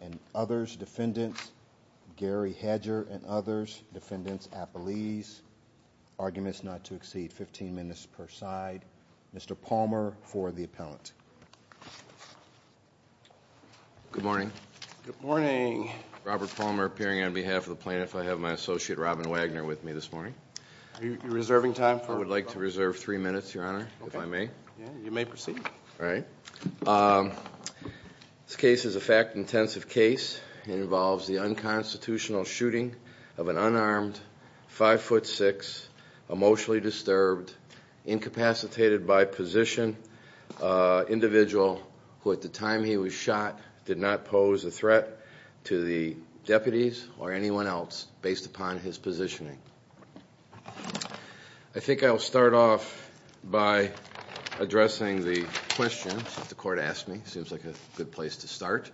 and others, defendants Gary Hedger and others, defendants Apolise, arguments not to exceed 15 minutes per side. Mr. Palmer for the appellant. Good morning, good morning, Robert Palmer appearing on behalf of the plaintiff, I have my associate Robin Wagner with me this morning. Are you reserving time? I would like to reserve three minutes, your honor, if I may. You may proceed. All right. This case is a fact-intensive case. It involves the unconstitutional shooting of an unarmed, 5 foot 6, emotionally disturbed, incapacitated by position, individual who at the time he was shot did not pose a threat to the deputies or anyone else based upon his positioning. I think I'll start off by addressing the questions that the court asked me, seems like a good place to start.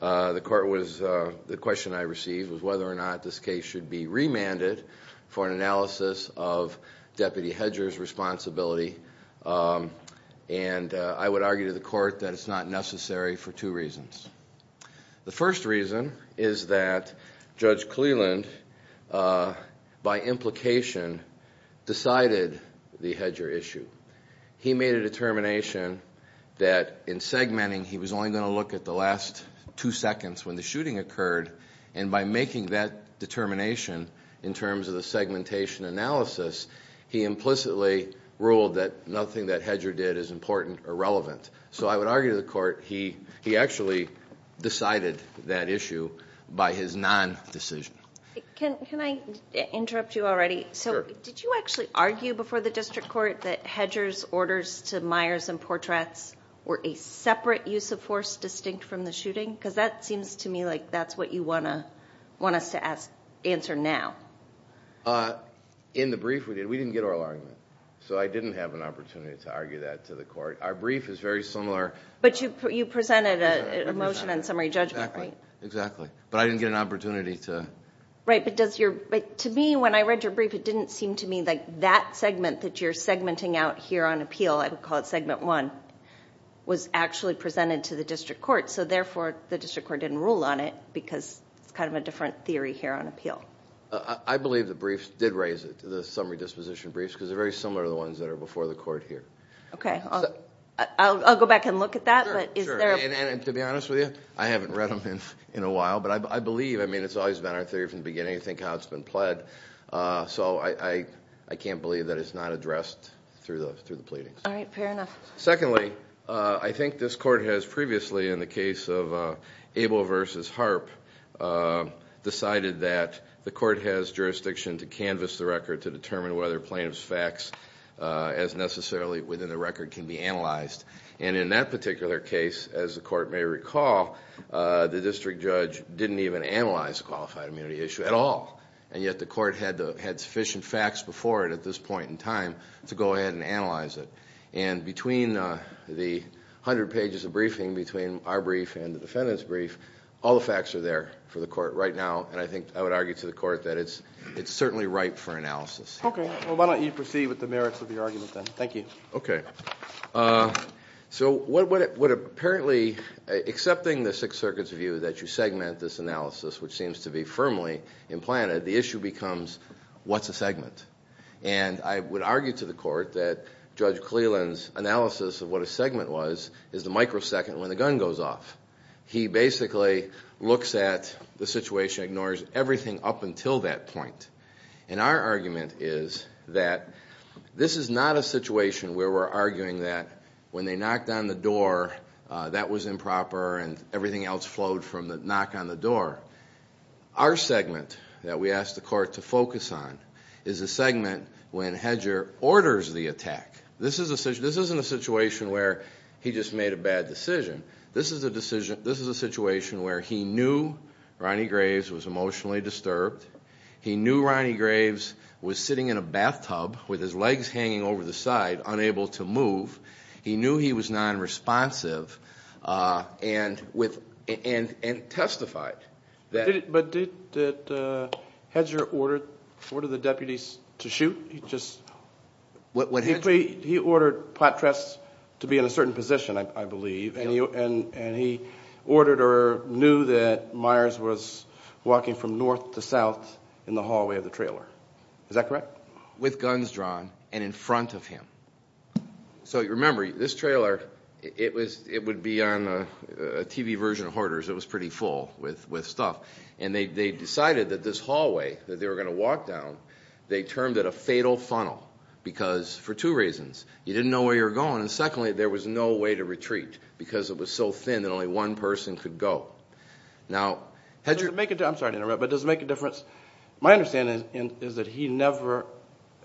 The court was, the question I received was whether or not this case should be remanded for an analysis of Deputy Hedger's responsibility and I would argue to the court that it's not necessary for two reasons. The first reason is that Judge Cleland by implication decided the Hedger issue. He made a determination that in segmenting he was only going to look at the last two seconds when the shooting occurred and by making that determination in terms of the segmentation analysis, he implicitly ruled that nothing that Hedger did is important or relevant. So I would argue to the court he actually decided that issue by his non-decision. Can I interrupt you already? Sure. Did you actually argue before the district court that Hedger's orders to Myers and Portrats were a separate use of force distinct from the shooting? Because that seems to me like that's what you want us to answer now. In the brief we did, we didn't get oral argument. So I didn't have an opportunity to argue that to the court. Our brief is very similar. But you presented a motion on summary judgment, right? Exactly. But I didn't get an opportunity to... Right, but to me when I read your brief it didn't seem to me that that segment that you're segmenting out here on appeal, I would call it segment one, was actually presented to the district court. So therefore the district court didn't rule on it because it's kind of a different theory here on appeal. I believe the briefs did raise it, the summary disposition briefs, because they're very similar to the ones that are before the court here. Okay. I'll go back and look at that, but is there a... Sure, sure. And to be honest with you, I haven't read them in a while. But I believe, I mean, it's always been our theory from the beginning to think how it's been pled. So I can't believe that it's not addressed through the pleadings. All right, fair enough. Secondly, I think this court has previously in the case of Abel versus Harp decided that the court has jurisdiction to canvas the record to determine whether plaintiff's facts as necessarily within the record can be analyzed. And in that particular case, as the court may recall, the district judge didn't even analyze the qualified immunity issue at all. And yet the court had sufficient facts before it at this point in time to go ahead and analyze it. And between the hundred pages of briefing, between our brief and the defendant's brief, all the facts are there for the court right now. And I think I would argue to the court that it's certainly ripe for analysis. Okay. Well, why don't you proceed with the merits of your argument then? Thank you. Okay. So what apparently, accepting the Sixth Circuit's view that you segment this analysis, which seems to be firmly implanted, the issue becomes what's a segment? And I would argue to the court that Judge Cleland's analysis of what a segment was is the microsecond when the gun goes off. He basically looks at the situation, ignores everything up until that point. And our argument is that this is not a situation where we're arguing that when they knocked on the door, that was improper and everything else flowed from the knock on the door. Our segment that we asked the court to focus on is a segment when Hedger orders the attack. This isn't a situation where he just made a bad decision. This is a situation where he knew Ronnie Graves was emotionally disturbed. He knew Ronnie Graves was sitting in a bathtub with his legs hanging over the side, unable to move. He knew he was nonresponsive and testified. But did Hedger order the deputies to shoot? He ordered Potras to be in a certain position, I believe. And he ordered or knew that Myers was walking from north to south in the hallway of the trailer. Is that correct? With guns drawn and in front of him. So remember, this trailer, it would be on a TV version of Hoarders. It was pretty full with stuff. And they decided that this hallway that they were going to walk down, they termed it a fatal funnel because for two reasons. You didn't know where you were going. And secondly, there was no way to retreat because it was so thin that only one person could go. Now, Hedger. I'm sorry to interrupt, but does it make a difference? My understanding is that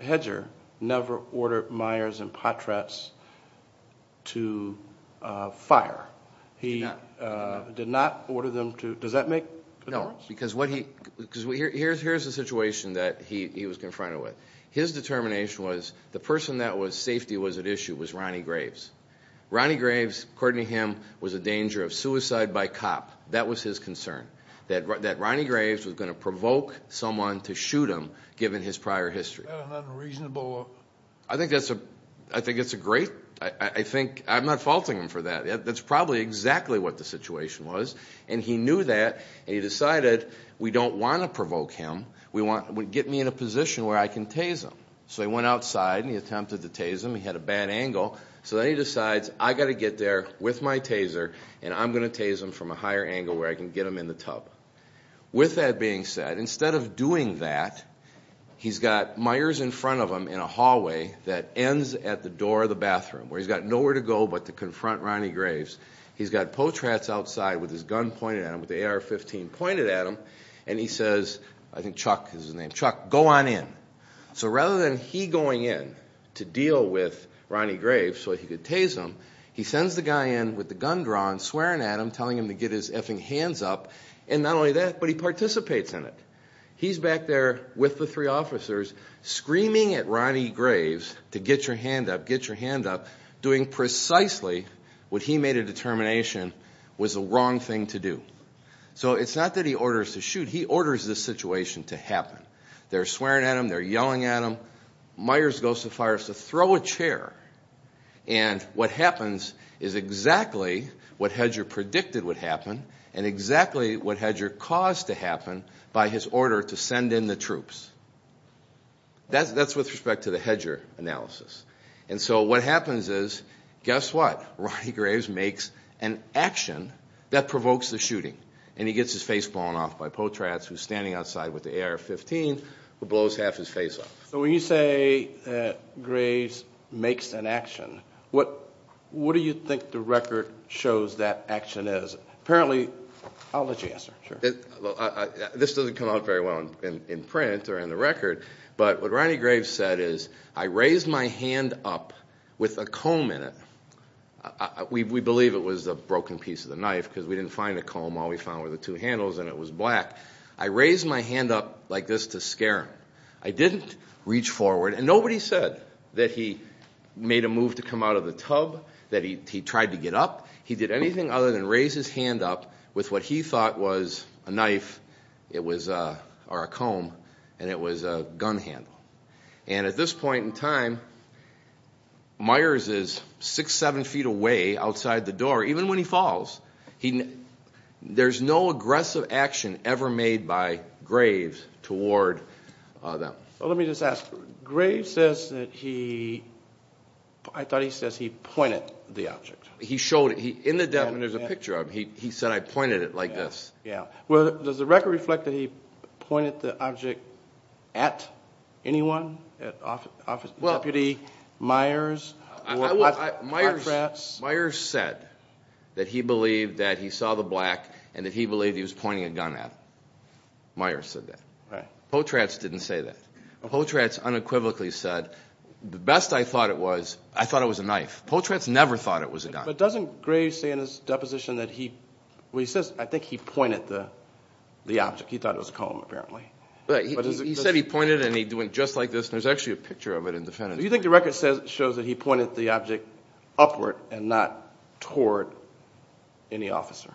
Hedger never ordered Myers and Potras to fire. He did not order them to. Does that make a difference? No, because here's the situation that he was confronted with. His determination was the person that was safety was at issue was Ronnie Graves. Ronnie Graves, according to him, was a danger of suicide by cop. That was his concern, that Ronnie Graves was going to provoke someone to shoot him given his prior history. Is that an unreasonable? I think that's a great. I think I'm not faulting him for that. That's probably exactly what the situation was. And he knew that, and he decided we don't want to provoke him. We want him to get me in a position where I can tase him. So he went outside, and he attempted to tase him. He had a bad angle. So then he decides I've got to get there with my taser, and I'm going to tase him from a higher angle where I can get him in the tub. With that being said, instead of doing that, he's got Myers in front of him in a hallway that ends at the door of the bathroom, where he's got nowhere to go but to confront Ronnie Graves. He's got Potras outside with his gun pointed at him, with the AR-15 pointed at him, and he says, I think Chuck is his name, Chuck, go on in. So rather than he going in to deal with Ronnie Graves so he could tase him, he sends the guy in with the gun drawn, swearing at him, telling him to get his effing hands up. And not only that, but he participates in it. He's back there with the three officers screaming at Ronnie Graves to get your hand up, get your hand up, doing precisely what he made a determination was the wrong thing to do. So it's not that he orders to shoot. He orders this situation to happen. They're swearing at him, they're yelling at him. Myers goes to fire, so throw a chair. And what happens is exactly what Hedger predicted would happen and exactly what Hedger caused to happen by his order to send in the troops. That's with respect to the Hedger analysis. And so what happens is, guess what? Ronnie Graves makes an action that provokes the shooting. And he gets his face blown off by Potratz, who's standing outside with the AR-15, who blows half his face off. So when you say that Graves makes an action, what do you think the record shows that action is? Apparently, I'll let you answer. This doesn't come out very well in print or in the record, but what Ronnie Graves said is, I raised my hand up with a comb in it. We believe it was a broken piece of the knife because we didn't find a comb. All we found were the two handles, and it was black. I raised my hand up like this to scare him. I didn't reach forward, and nobody said that he made a move to come out of the tub, that he tried to get up. He did anything other than raise his hand up with what he thought was a knife or a comb, and it was a gun handle. And at this point in time, Myers is six, seven feet away outside the door. Even when he falls, there's no aggressive action ever made by Graves toward them. Well, let me just ask. Graves says that he – I thought he says he pointed the object. He showed it. In the document, there's a picture of him. He said, I pointed it like this. Yeah. Well, does the record reflect that he pointed the object at anyone, at Deputy Myers? Myers said that he believed that he saw the black and that he believed he was pointing a gun at him. Myers said that. Potratz didn't say that. Potratz unequivocally said, the best I thought it was, I thought it was a knife. Potratz never thought it was a gun. But doesn't Graves say in his deposition that he – well, he says, I think he pointed the object. He thought it was a comb, apparently. He said he pointed and he went just like this, and there's actually a picture of it in the – Do you think the record shows that he pointed the object upward and not toward any officer?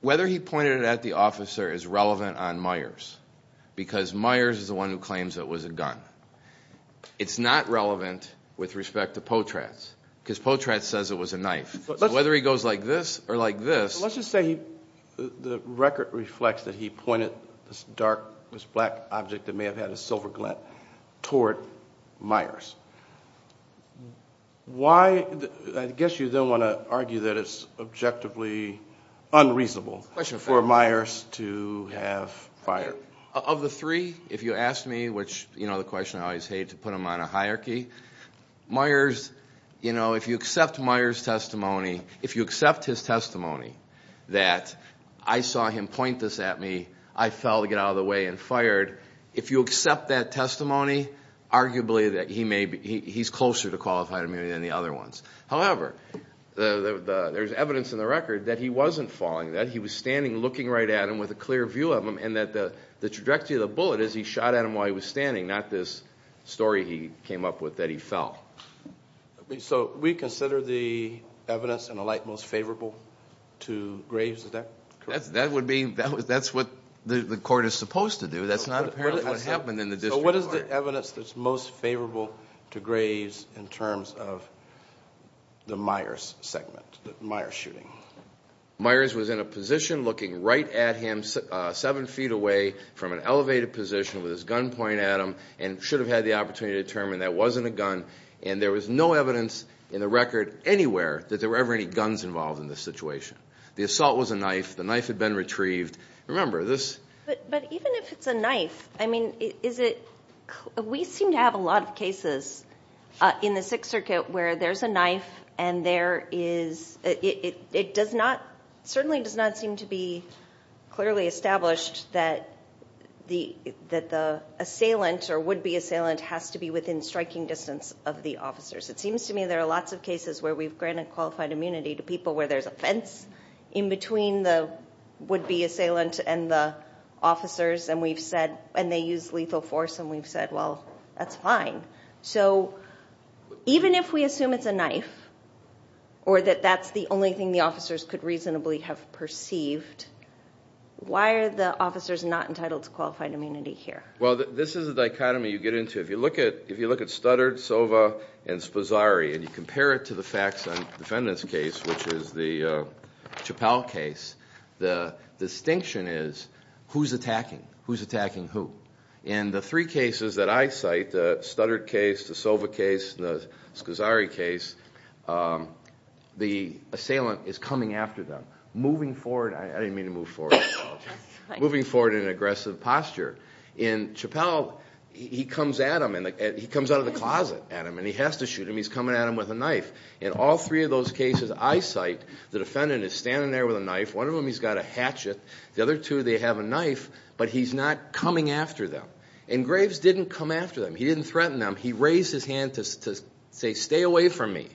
Whether he pointed it at the officer is relevant on Myers because Myers is the one who claims it was a gun. It's not relevant with respect to Potratz because Potratz says it was a knife. So whether he goes like this or like this – Let's just say the record reflects that he pointed this dark, this black object that may have had a silver glint toward Myers. Why – I guess you then want to argue that it's objectively unreasonable for Myers to have fired. Of the three, if you ask me, which, you know, the question I always hate to put them on a hierarchy, Myers, you know, if you accept Myers' testimony, if you accept his testimony that I saw him point this at me, I fell to get out of the way and fired, if you accept that testimony, arguably he's closer to qualified immunity than the other ones. However, there's evidence in the record that he wasn't falling, that he was standing looking right at him with a clear view of him and that the trajectory of the bullet is he shot at him while he was standing, not this story he came up with that he fell. So we consider the evidence in the light most favorable to Graves, is that correct? That would be – that's what the court is supposed to do. That's not apparently what happened in the district court. So what is the evidence that's most favorable to Graves in terms of the Myers segment, the Myers shooting? Myers was in a position looking right at him, seven feet away from an elevated position with his gun pointed at him and should have had the opportunity to determine that wasn't a gun, and there was no evidence in the record anywhere that there were ever any guns involved in this situation. The assault was a knife. The knife had been retrieved. Remember, this – But even if it's a knife, I mean, is it – we seem to have a lot of cases in the Sixth Circuit where there's a knife and there is – it does not – certainly does not seem to be clearly established that the assailant or would-be assailant has to be within striking distance of the officers. It seems to me there are lots of cases where we've granted qualified immunity to people where there's a fence in between the would-be assailant and the officers, and we've said – and they use lethal force, and we've said, well, that's fine. So even if we assume it's a knife or that that's the only thing the officers could reasonably have perceived, why are the officers not entitled to qualified immunity here? Well, this is a dichotomy you get into. If you look at Stoddard, Sova, and Sposari, and you compare it to the facts on the defendant's case, which is the Chappelle case, the distinction is who's attacking, who's attacking who. In the three cases that I cite, the Stoddard case, the Sova case, the Sposari case, the assailant is coming after them, moving forward – I didn't mean to move forward. Moving forward in an aggressive posture. In Chappelle, he comes at him, and he comes out of the closet at him, and he has to shoot him. He's coming at him with a knife. In all three of those cases I cite, the defendant is standing there with a knife. One of them he's got a hatchet. The other two they have a knife, but he's not coming after them. And Graves didn't come after them. He didn't threaten them. He raised his hand to say, stay away from me.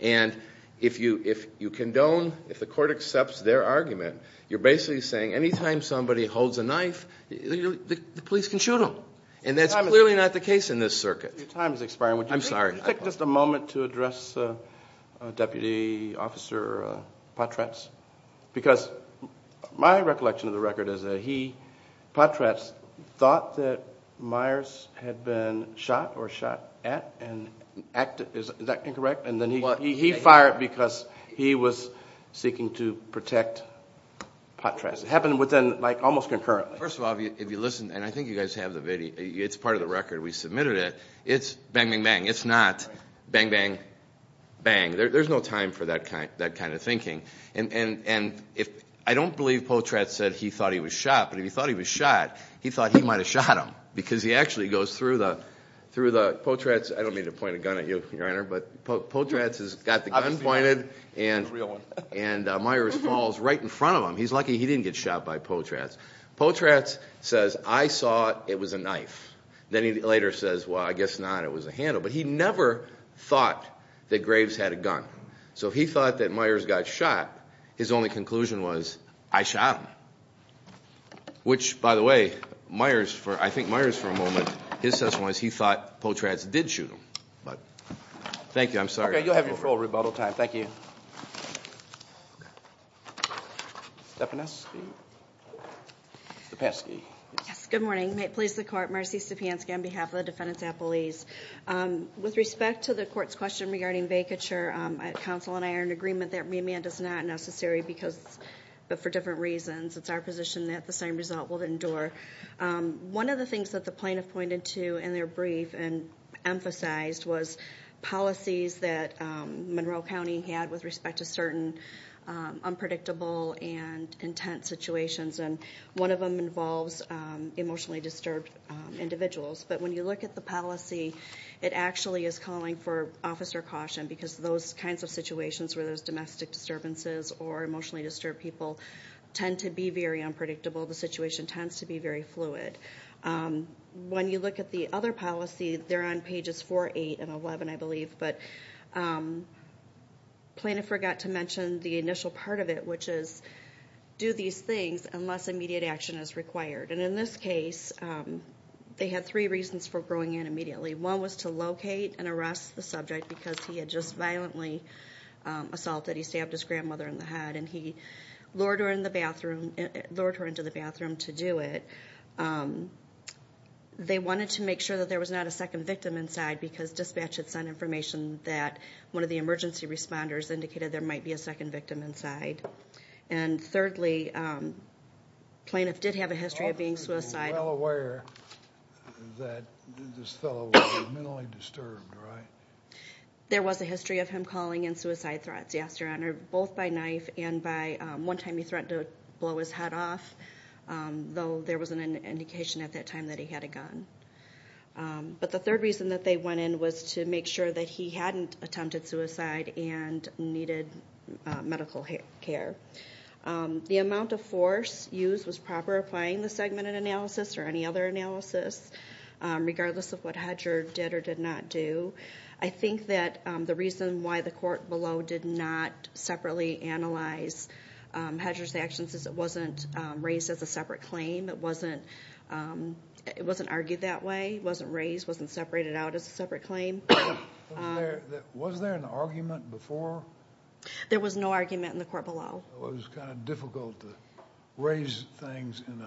And if you condone, if the court accepts their argument, you're basically saying any time somebody holds a knife, the police can shoot them. And that's clearly not the case in this circuit. Your time is expiring. I'm sorry. Can I take just a moment to address Deputy Officer Potratz? Because my recollection of the record is that he, Potratz, thought that Myers had been shot or shot at and acted – is that incorrect? He fired because he was seeking to protect Potratz. It happened within, like, almost concurrently. First of all, if you listen, and I think you guys have the video. It's part of the record. We submitted it. It's bang, bang, bang. It's not bang, bang, bang. There's no time for that kind of thinking. And I don't believe Potratz said he thought he was shot, but if he thought he was shot, he thought he might have shot him because he actually goes through the – Potratz – I don't mean to point a gun at you, Your Honor, but Potratz has got the gun pointed and Myers falls right in front of him. He's lucky he didn't get shot by Potratz. Potratz says, I saw it was a knife. Then he later says, well, I guess not. It was a handle. But he never thought that Graves had a gun. So if he thought that Myers got shot, his only conclusion was, I shot him. Which, by the way, Myers for – I think Myers for a moment, his assessment was he thought Potratz did shoot him. But thank you. I'm sorry. Okay. You'll have your full rebuttal time. Thank you. Stepanewski. Stepanski. Yes, good morning. Please, the Court. Marcy Stepanski on behalf of the defendants at police. With respect to the court's question regarding vacature, counsel and I are in agreement that remand is not necessary because – but for different reasons. It's our position that the same result will endure. One of the things that the plaintiff pointed to in their brief and emphasized was policies that Monroe County had with respect to certain unpredictable and intense situations. And one of them involves emotionally disturbed individuals. But when you look at the policy, it actually is calling for officer caution because those kinds of situations where there's domestic disturbances or emotionally disturbed people tend to be very unpredictable. The situation tends to be very fluid. When you look at the other policy, they're on pages 4, 8, and 11, I believe. But the plaintiff forgot to mention the initial part of it, which is do these things unless immediate action is required. And in this case, they had three reasons for going in immediately. One was to locate and arrest the subject because he had just violently assaulted. He stabbed his grandmother in the head, and he lured her into the bathroom to do it. They wanted to make sure that there was not a second victim inside because dispatch had sent information that one of the emergency responders indicated there might be a second victim inside. And thirdly, plaintiff did have a history of being suicidal. The officer was well aware that this fellow was mentally disturbed, right? There was a history of him calling in suicide threats, yes, Your Honor, both by knife and by one time he threatened to blow his head off, though there wasn't an indication at that time that he had a gun. But the third reason that they went in was to make sure that he hadn't attempted suicide and needed medical care. The amount of force used was proper applying the segmented analysis or any other analysis regardless of what Hedger did or did not do. I think that the reason why the court below did not separately analyze Hedger's actions is it wasn't raised as a separate claim. It wasn't argued that way. It wasn't raised, wasn't separated out as a separate claim. Was there an argument before? There was no argument in the court below. It was kind of difficult to raise things in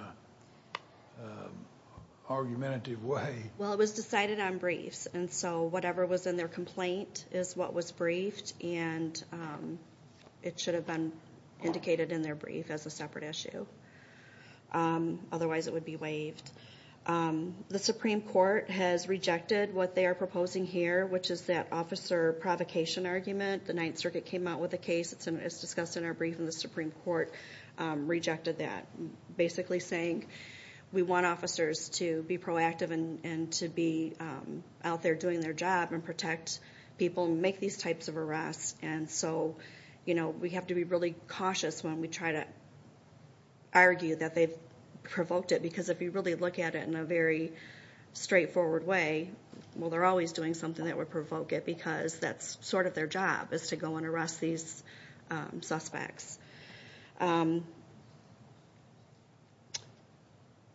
an argumentative way. Well, it was decided on briefs, and so whatever was in their complaint is what was briefed, and it should have been indicated in their brief as a separate issue. Otherwise it would be waived. The Supreme Court has rejected what they are proposing here, which is that officer provocation argument. The Ninth Circuit came out with a case that's discussed in our brief, and the Supreme Court rejected that, basically saying we want officers to be proactive and to be out there doing their job and protect people and make these types of arrests. And so we have to be really cautious when we try to argue that they've provoked it because if you really look at it in a very straightforward way, well, they're always doing something that would provoke it because that's sort of their job is to go and arrest these suspects.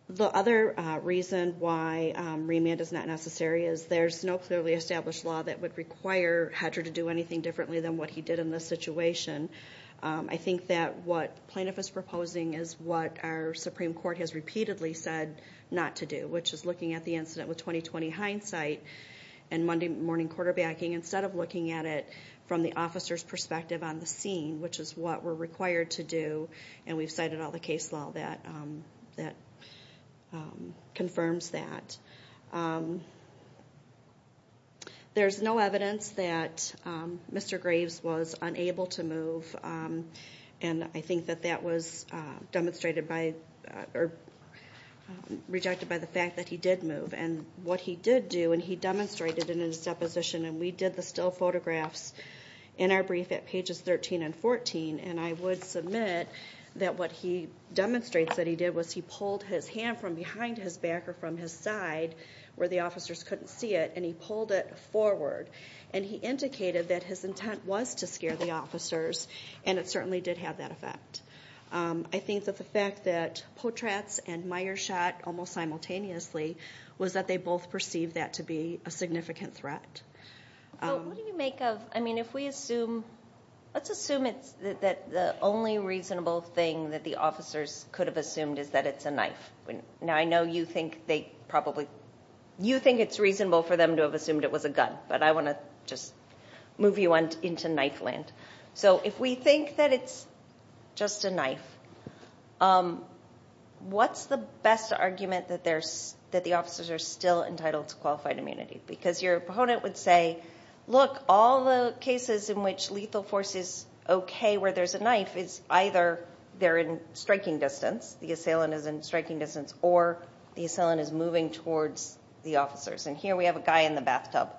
The other reason why remand is not necessary is there's no clearly established law that would require Hedger to do anything differently than what he did in this situation. I think that what plaintiff is proposing is what our Supreme Court has repeatedly said not to do, which is looking at the incident with 20-20 hindsight and Monday morning quarterbacking instead of looking at it from the officer's perspective on the scene, which is what we're required to do, and we've cited all the case law that confirms that. There's no evidence that Mr. Graves was unable to move, and I think that that was demonstrated by or rejected by the fact that he did move. And what he did do, and he demonstrated it in his deposition, and we did the still photographs in our brief at pages 13 and 14, and I would submit that what he demonstrates that he did was he pulled his hand from behind his back or from his side where the officers couldn't see it, and he pulled it forward, and he indicated that his intent was to scare the officers, and it certainly did have that effect. I think that the fact that Potratz and Meyer shot almost simultaneously was that they both perceived that to be a significant threat. What do you make of, I mean, if we assume, let's assume that the only reasonable thing that the officers could have assumed is that it's a knife. Now, I know you think it's reasonable for them to have assumed it was a gun, but I want to just move you into knife land. So if we think that it's just a knife, what's the best argument that the officers are still entitled to qualified immunity? Because your proponent would say, look, all the cases in which lethal force is okay where there's a knife is either they're in striking distance, the assailant is in striking distance, or the assailant is moving towards the officers, and here we have a guy in the bathtub.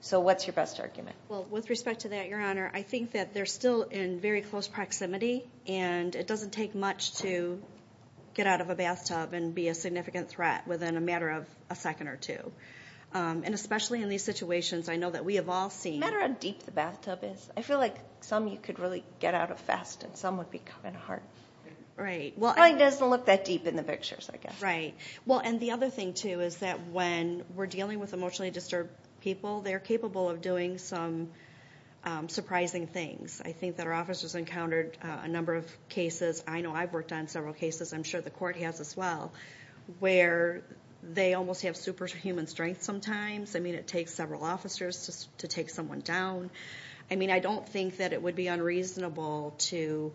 So what's your best argument? Well, with respect to that, Your Honor, I think that they're still in very close proximity, and it doesn't take much to get out of a bathtub and be a significant threat within a matter of a second or two. And especially in these situations, I know that we have all seen. No matter how deep the bathtub is, I feel like some you could really get out of fast, and some would be coming hard. Right. It probably doesn't look that deep in the pictures, I guess. Right. Well, and the other thing, too, is that when we're dealing with emotionally disturbed people, they're capable of doing some surprising things. I think that our officers encountered a number of cases. I know I've worked on several cases. I'm sure the court has as well, where they almost have superhuman strength sometimes. I mean, it takes several officers to take someone down. I mean, I don't think that it would be unreasonable to,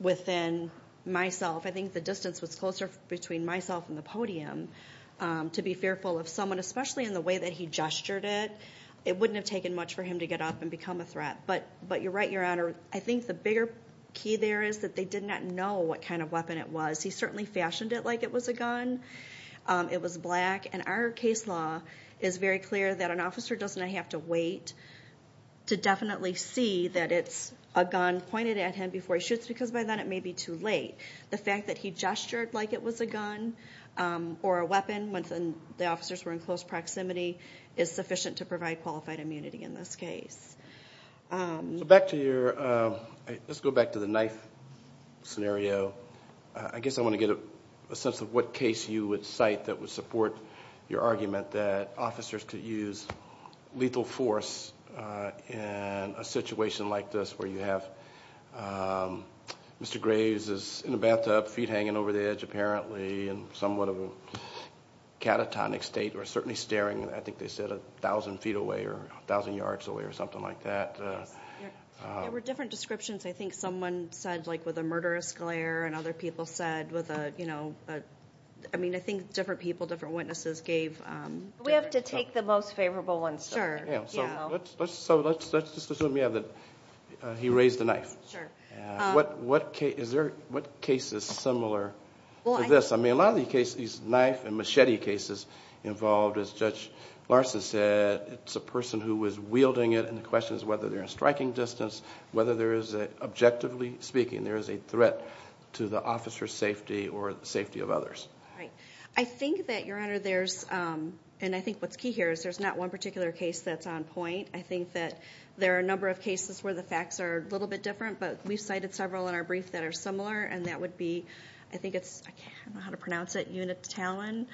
within myself, I think the distance was closer between myself and the podium, to be fearful of someone, especially in the way that he gestured it. It wouldn't have taken much for him to get up and become a threat. But you're right, Your Honor. I think the bigger key there is that they did not know what kind of weapon it was. He certainly fashioned it like it was a gun. It was black. And our case law is very clear that an officer does not have to wait to definitely see that it's a gun pointed at him before he shoots, because by then it may be too late. The fact that he gestured like it was a gun or a weapon when the officers were in close proximity is sufficient to provide qualified immunity in this case. Let's go back to the knife scenario. I guess I want to get a sense of what case you would cite that would support your argument that officers could use lethal force in a situation like this, where you have Mr. Graves is in a bathtub, feet hanging over the edge, apparently, in somewhat of a catatonic state, or certainly staring, I think they said, a thousand feet away or a thousand yards away or something like that. There were different descriptions. I think someone said, like, with a murderous glare, and other people said with a, you know, I mean, I think different people, different witnesses gave different thoughts. We have to take the most favorable ones. Sure. So let's just assume you have the, he raised the knife. Sure. What case is similar to this? I mean, a lot of these knife and machete cases involved, as Judge Larson said, it's a person who is wielding it, and the question is whether they're in striking distance, whether there is, objectively speaking, there is a threat to the officer's safety or the safety of others. Right. I think that, Your Honor, there's, and I think what's key here is there's not one particular case that's on point. I think that there are a number of cases where the facts are a little bit different, but we've cited several in our brief that are similar, and that would be, I think it's, I don't know how to pronounce it, Unitalin.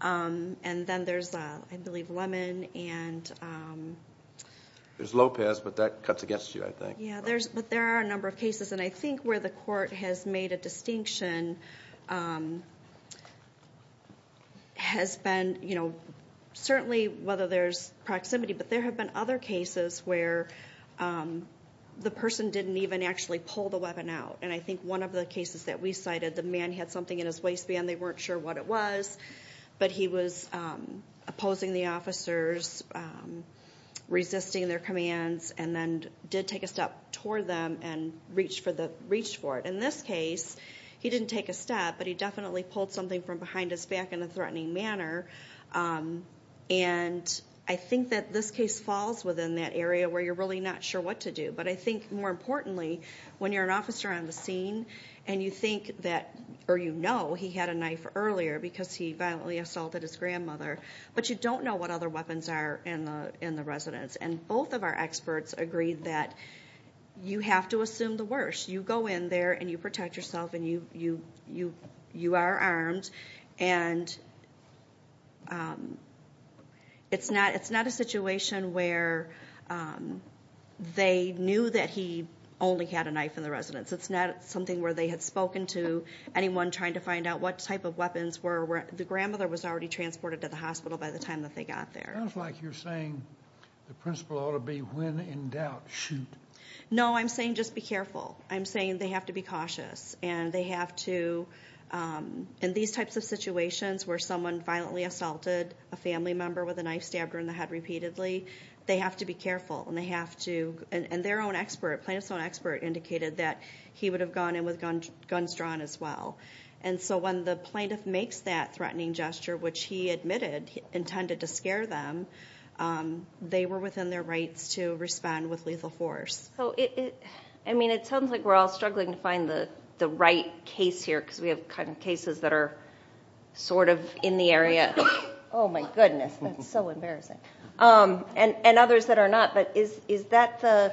And then there's, I believe, Lemon and. There's Lopez, but that cuts against you, I think. Yeah, but there are a number of cases, and I think where the court has made a distinction has been, you know, certainly whether there's proximity, but there have been other cases where the person didn't even actually pull the weapon out. And I think one of the cases that we cited, the man had something in his waistband, they weren't sure what it was, but he was opposing the officers, resisting their commands, and then did take a step toward them and reached for it. In this case, he didn't take a step, but he definitely pulled something from behind his back in a threatening manner. And I think that this case falls within that area where you're really not sure what to do. But I think more importantly, when you're an officer on the scene and you think that, or you know he had a knife earlier because he violently assaulted his grandmother, but you don't know what other weapons are in the residence. And both of our experts agree that you have to assume the worst. You go in there, and you protect yourself, and you are armed. And it's not a situation where they knew that he only had a knife in the residence. It's not something where they had spoken to anyone trying to find out what type of weapons were. The grandmother was already transported to the hospital by the time that they got there. It sounds like you're saying the principle ought to be when in doubt, shoot. No, I'm saying just be careful. I'm saying they have to be cautious. And they have to, in these types of situations where someone violently assaulted a family member with a knife, stabbed her in the head repeatedly, they have to be careful. And they have to, and their own expert, plaintiff's own expert, indicated that he would have gone in with guns drawn as well. And so when the plaintiff makes that threatening gesture, which he admitted he intended to scare them, they were within their rights to respond with lethal force. I mean, it sounds like we're all struggling to find the right case here because we have kind of cases that are sort of in the area. Oh, my goodness. That's so embarrassing. And others that are not. But is that the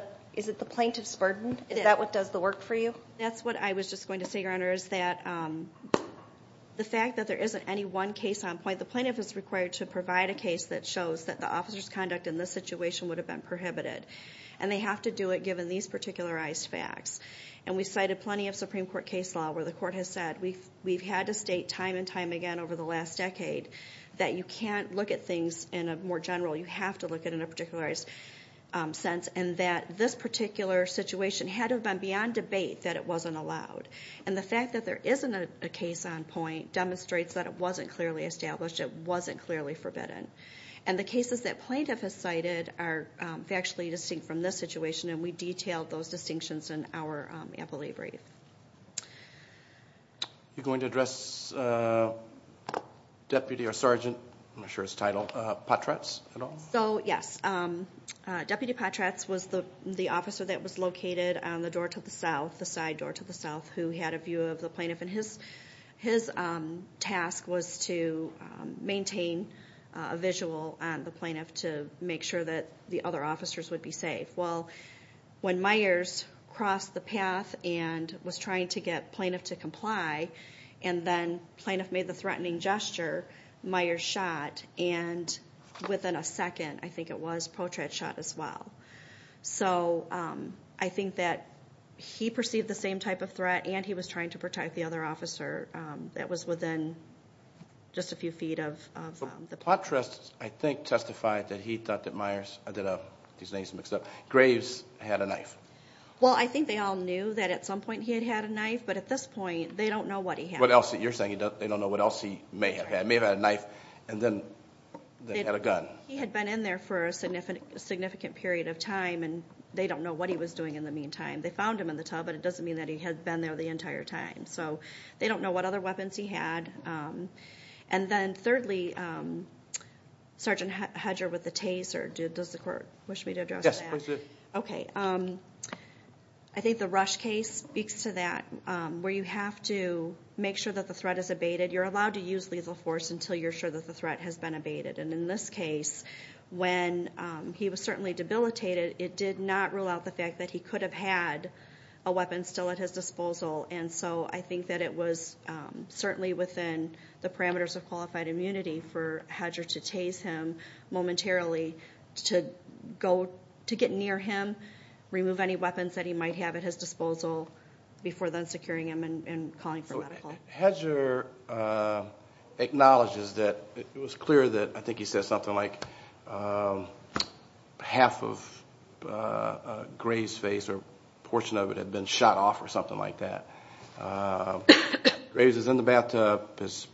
plaintiff's burden? Is that what does the work for you? That's what I was just going to say, Your Honor, is that the fact that there isn't any one case on point, the plaintiff is required to provide a case that shows that the officer's conduct in this situation would have been prohibited. And they have to do it given these particularized facts. And we cited plenty of Supreme Court case law where the court has said we've had to state time and time again over the last decade that you can't look at things in a more general, you have to look at it in a particularized sense, and that this particular situation had to have been beyond debate that it wasn't allowed. And the fact that there isn't a case on point demonstrates that it wasn't clearly established, it wasn't clearly forbidden. And the cases that plaintiff has cited are factually distinct from this situation, and we detailed those distinctions in our appellee brief. Are you going to address deputy or sergeant, I'm not sure his title, Potratz at all? So, yes. Deputy Potratz was the officer that was located on the door to the south, the side door to the south, who had a view of the plaintiff. And his task was to maintain a visual on the plaintiff to make sure that the other officers would be safe. Well, when Myers crossed the path and was trying to get plaintiff to comply, and then plaintiff made the threatening gesture, Myers shot, and within a second, I think it was, Potratz shot as well. So I think that he perceived the same type of threat, and he was trying to protect the other officer that was within just a few feet of the plaintiff. Potratz, I think, testified that he thought that Myers, I don't know, these names are mixed up, Graves had a knife. Well, I think they all knew that at some point he had had a knife, but at this point they don't know what he had. What else? You're saying they don't know what else he may have had. May have had a knife and then had a gun. He had been in there for a significant period of time, and they don't know what he was doing in the meantime. They found him in the tub, but it doesn't mean that he had been there the entire time. So they don't know what other weapons he had. And then thirdly, Sergeant Hedger with the Taser, does the court wish me to address that? Yes, please do. Okay. I think the Rush case speaks to that, where you have to make sure that the threat is abated. You're allowed to use lethal force until you're sure that the threat has been abated. And in this case, when he was certainly debilitated, it did not rule out the fact that he could have had a weapon still at his disposal. And so I think that it was certainly within the parameters of qualified immunity for Hedger to tase him momentarily, to get near him, remove any weapons that he might have at his disposal, before then securing him and calling for medical. Hedger acknowledges that it was clear that, I think he said something like, half of Graves' face or a portion of it had been shot off or something like that. Graves is in the bathtub. It's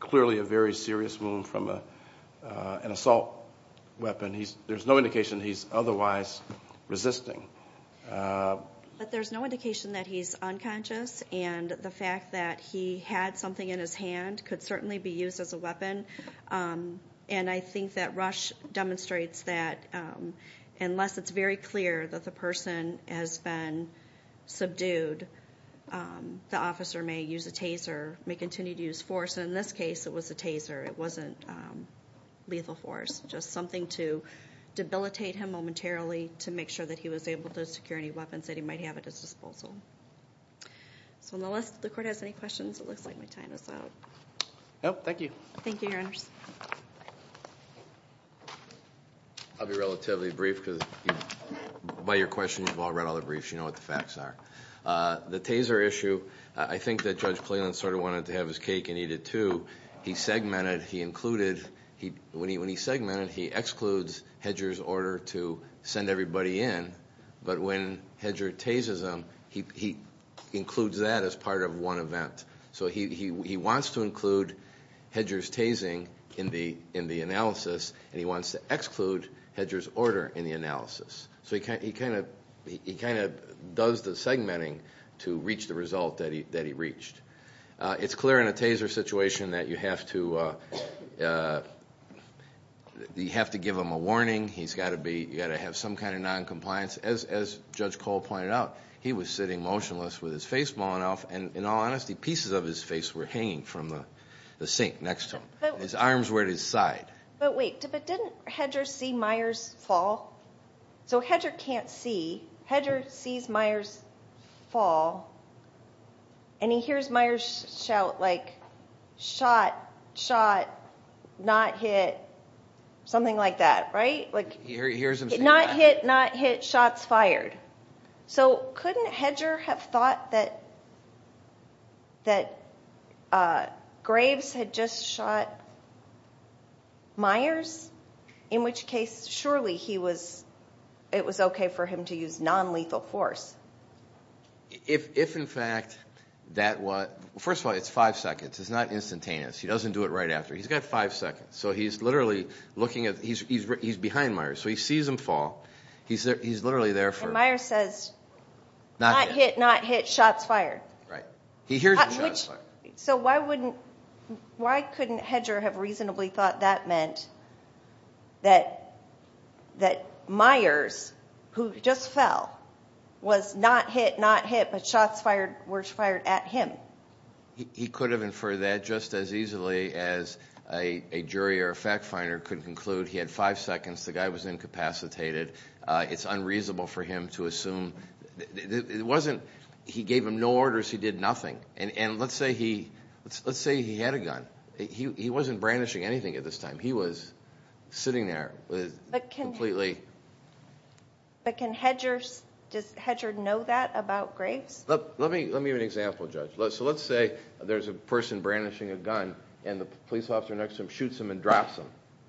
clearly a very serious wound from an assault weapon. There's no indication he's otherwise resisting. But there's no indication that he's unconscious, and the fact that he had something in his hand could certainly be used as a weapon. And I think that Rush demonstrates that unless it's very clear that the person has been subdued, the officer may use a taser, may continue to use force. In this case, it was a taser. It wasn't lethal force, just something to debilitate him momentarily to make sure that he was able to secure any weapons that he might have at his disposal. So unless the Court has any questions, it looks like my time is up. Thank you. Thank you, Your Honors. I'll be relatively brief because by your questions, you've all read all the briefs. You know what the facts are. The taser issue, I think that Judge Cleland sort of wanted to have his cake and eat it too. When he's segmented, he excludes Hedger's order to send everybody in, but when Hedger tases him, he includes that as part of one event. So he wants to include Hedger's tasing in the analysis, and he wants to exclude Hedger's order in the analysis. So he kind of does the segmenting to reach the result that he reached. It's clear in a taser situation that you have to give him a warning. You've got to have some kind of noncompliance. As Judge Cole pointed out, he was sitting motionless with his face blown off, and in all honesty, pieces of his face were hanging from the sink next to him. His arms were at his side. But wait, didn't Hedger see Myers fall? So Hedger can't see. Hedger sees Myers fall, and he hears Myers shout, like, shot, shot, not hit, something like that, right? He hears him say that. Not hit, not hit, shots fired. So couldn't Hedger have thought that Graves had just shot Myers, in which case surely it was okay for him to use nonlethal force? If, in fact, that was – first of all, it's five seconds. It's not instantaneous. He doesn't do it right after. He's got five seconds. So he's literally looking at – he's behind Myers. So he sees him fall. He's literally there for him. And Myers says, not hit, not hit, shots fired. Right. He hears the shots fired. So why couldn't Hedger have reasonably thought that meant that Myers, who just fell, was not hit, not hit, but shots were fired at him? He could have inferred that just as easily as a jury or a fact finder could conclude. He had five seconds. The guy was incapacitated. It's unreasonable for him to assume. It wasn't – he gave him no orders. He did nothing. And let's say he had a gun. He wasn't brandishing anything at this time. He was sitting there completely. But can Hedger – does Hedger know that about Graves? Let me give you an example, Judge. So let's say there's a person brandishing a gun, and the police officer next to him shoots him and drops him.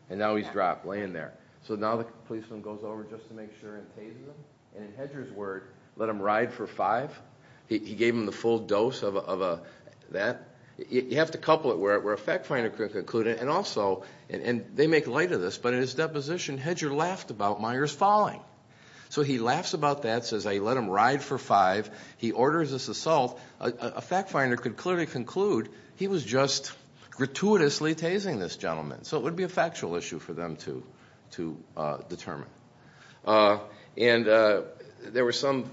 And now he's dropped, laying there. So now the policeman goes over just to make sure and tases him. And in Hedger's word, let him ride for five. He gave him the full dose of that. You have to couple it where a fact finder could conclude it. And also, and they make light of this, but in his deposition Hedger laughed about Myers falling. So he laughs about that, says let him ride for five. He orders this assault. A fact finder could clearly conclude he was just gratuitously tasing this gentleman. So it would be a factual issue for them to determine. And there was some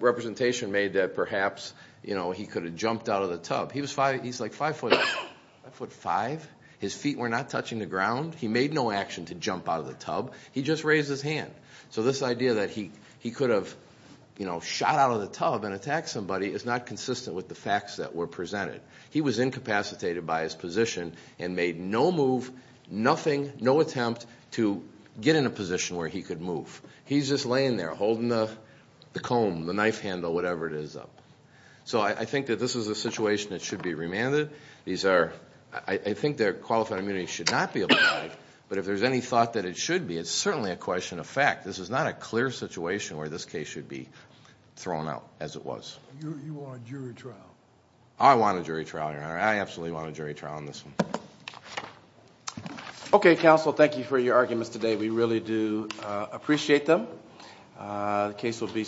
representation made that perhaps he could have jumped out of the tub. He's like five foot five. His feet were not touching the ground. He made no action to jump out of the tub. He just raised his hand. So this idea that he could have shot out of the tub and attacked somebody is not consistent with the facts that were presented. He was incapacitated by his position and made no move, nothing, no attempt to get in a position where he could move. He's just laying there holding the comb, the knife handle, whatever it is up. So I think that this is a situation that should be remanded. These are, I think their qualified immunity should not be abolished. But if there's any thought that it should be, it's certainly a question of fact. This is not a clear situation where this case should be thrown out as it was. You want a jury trial? I want a jury trial, Your Honor. I absolutely want a jury trial on this one. Okay, counsel, thank you for your arguments today. We really do appreciate them. The case will be submitted.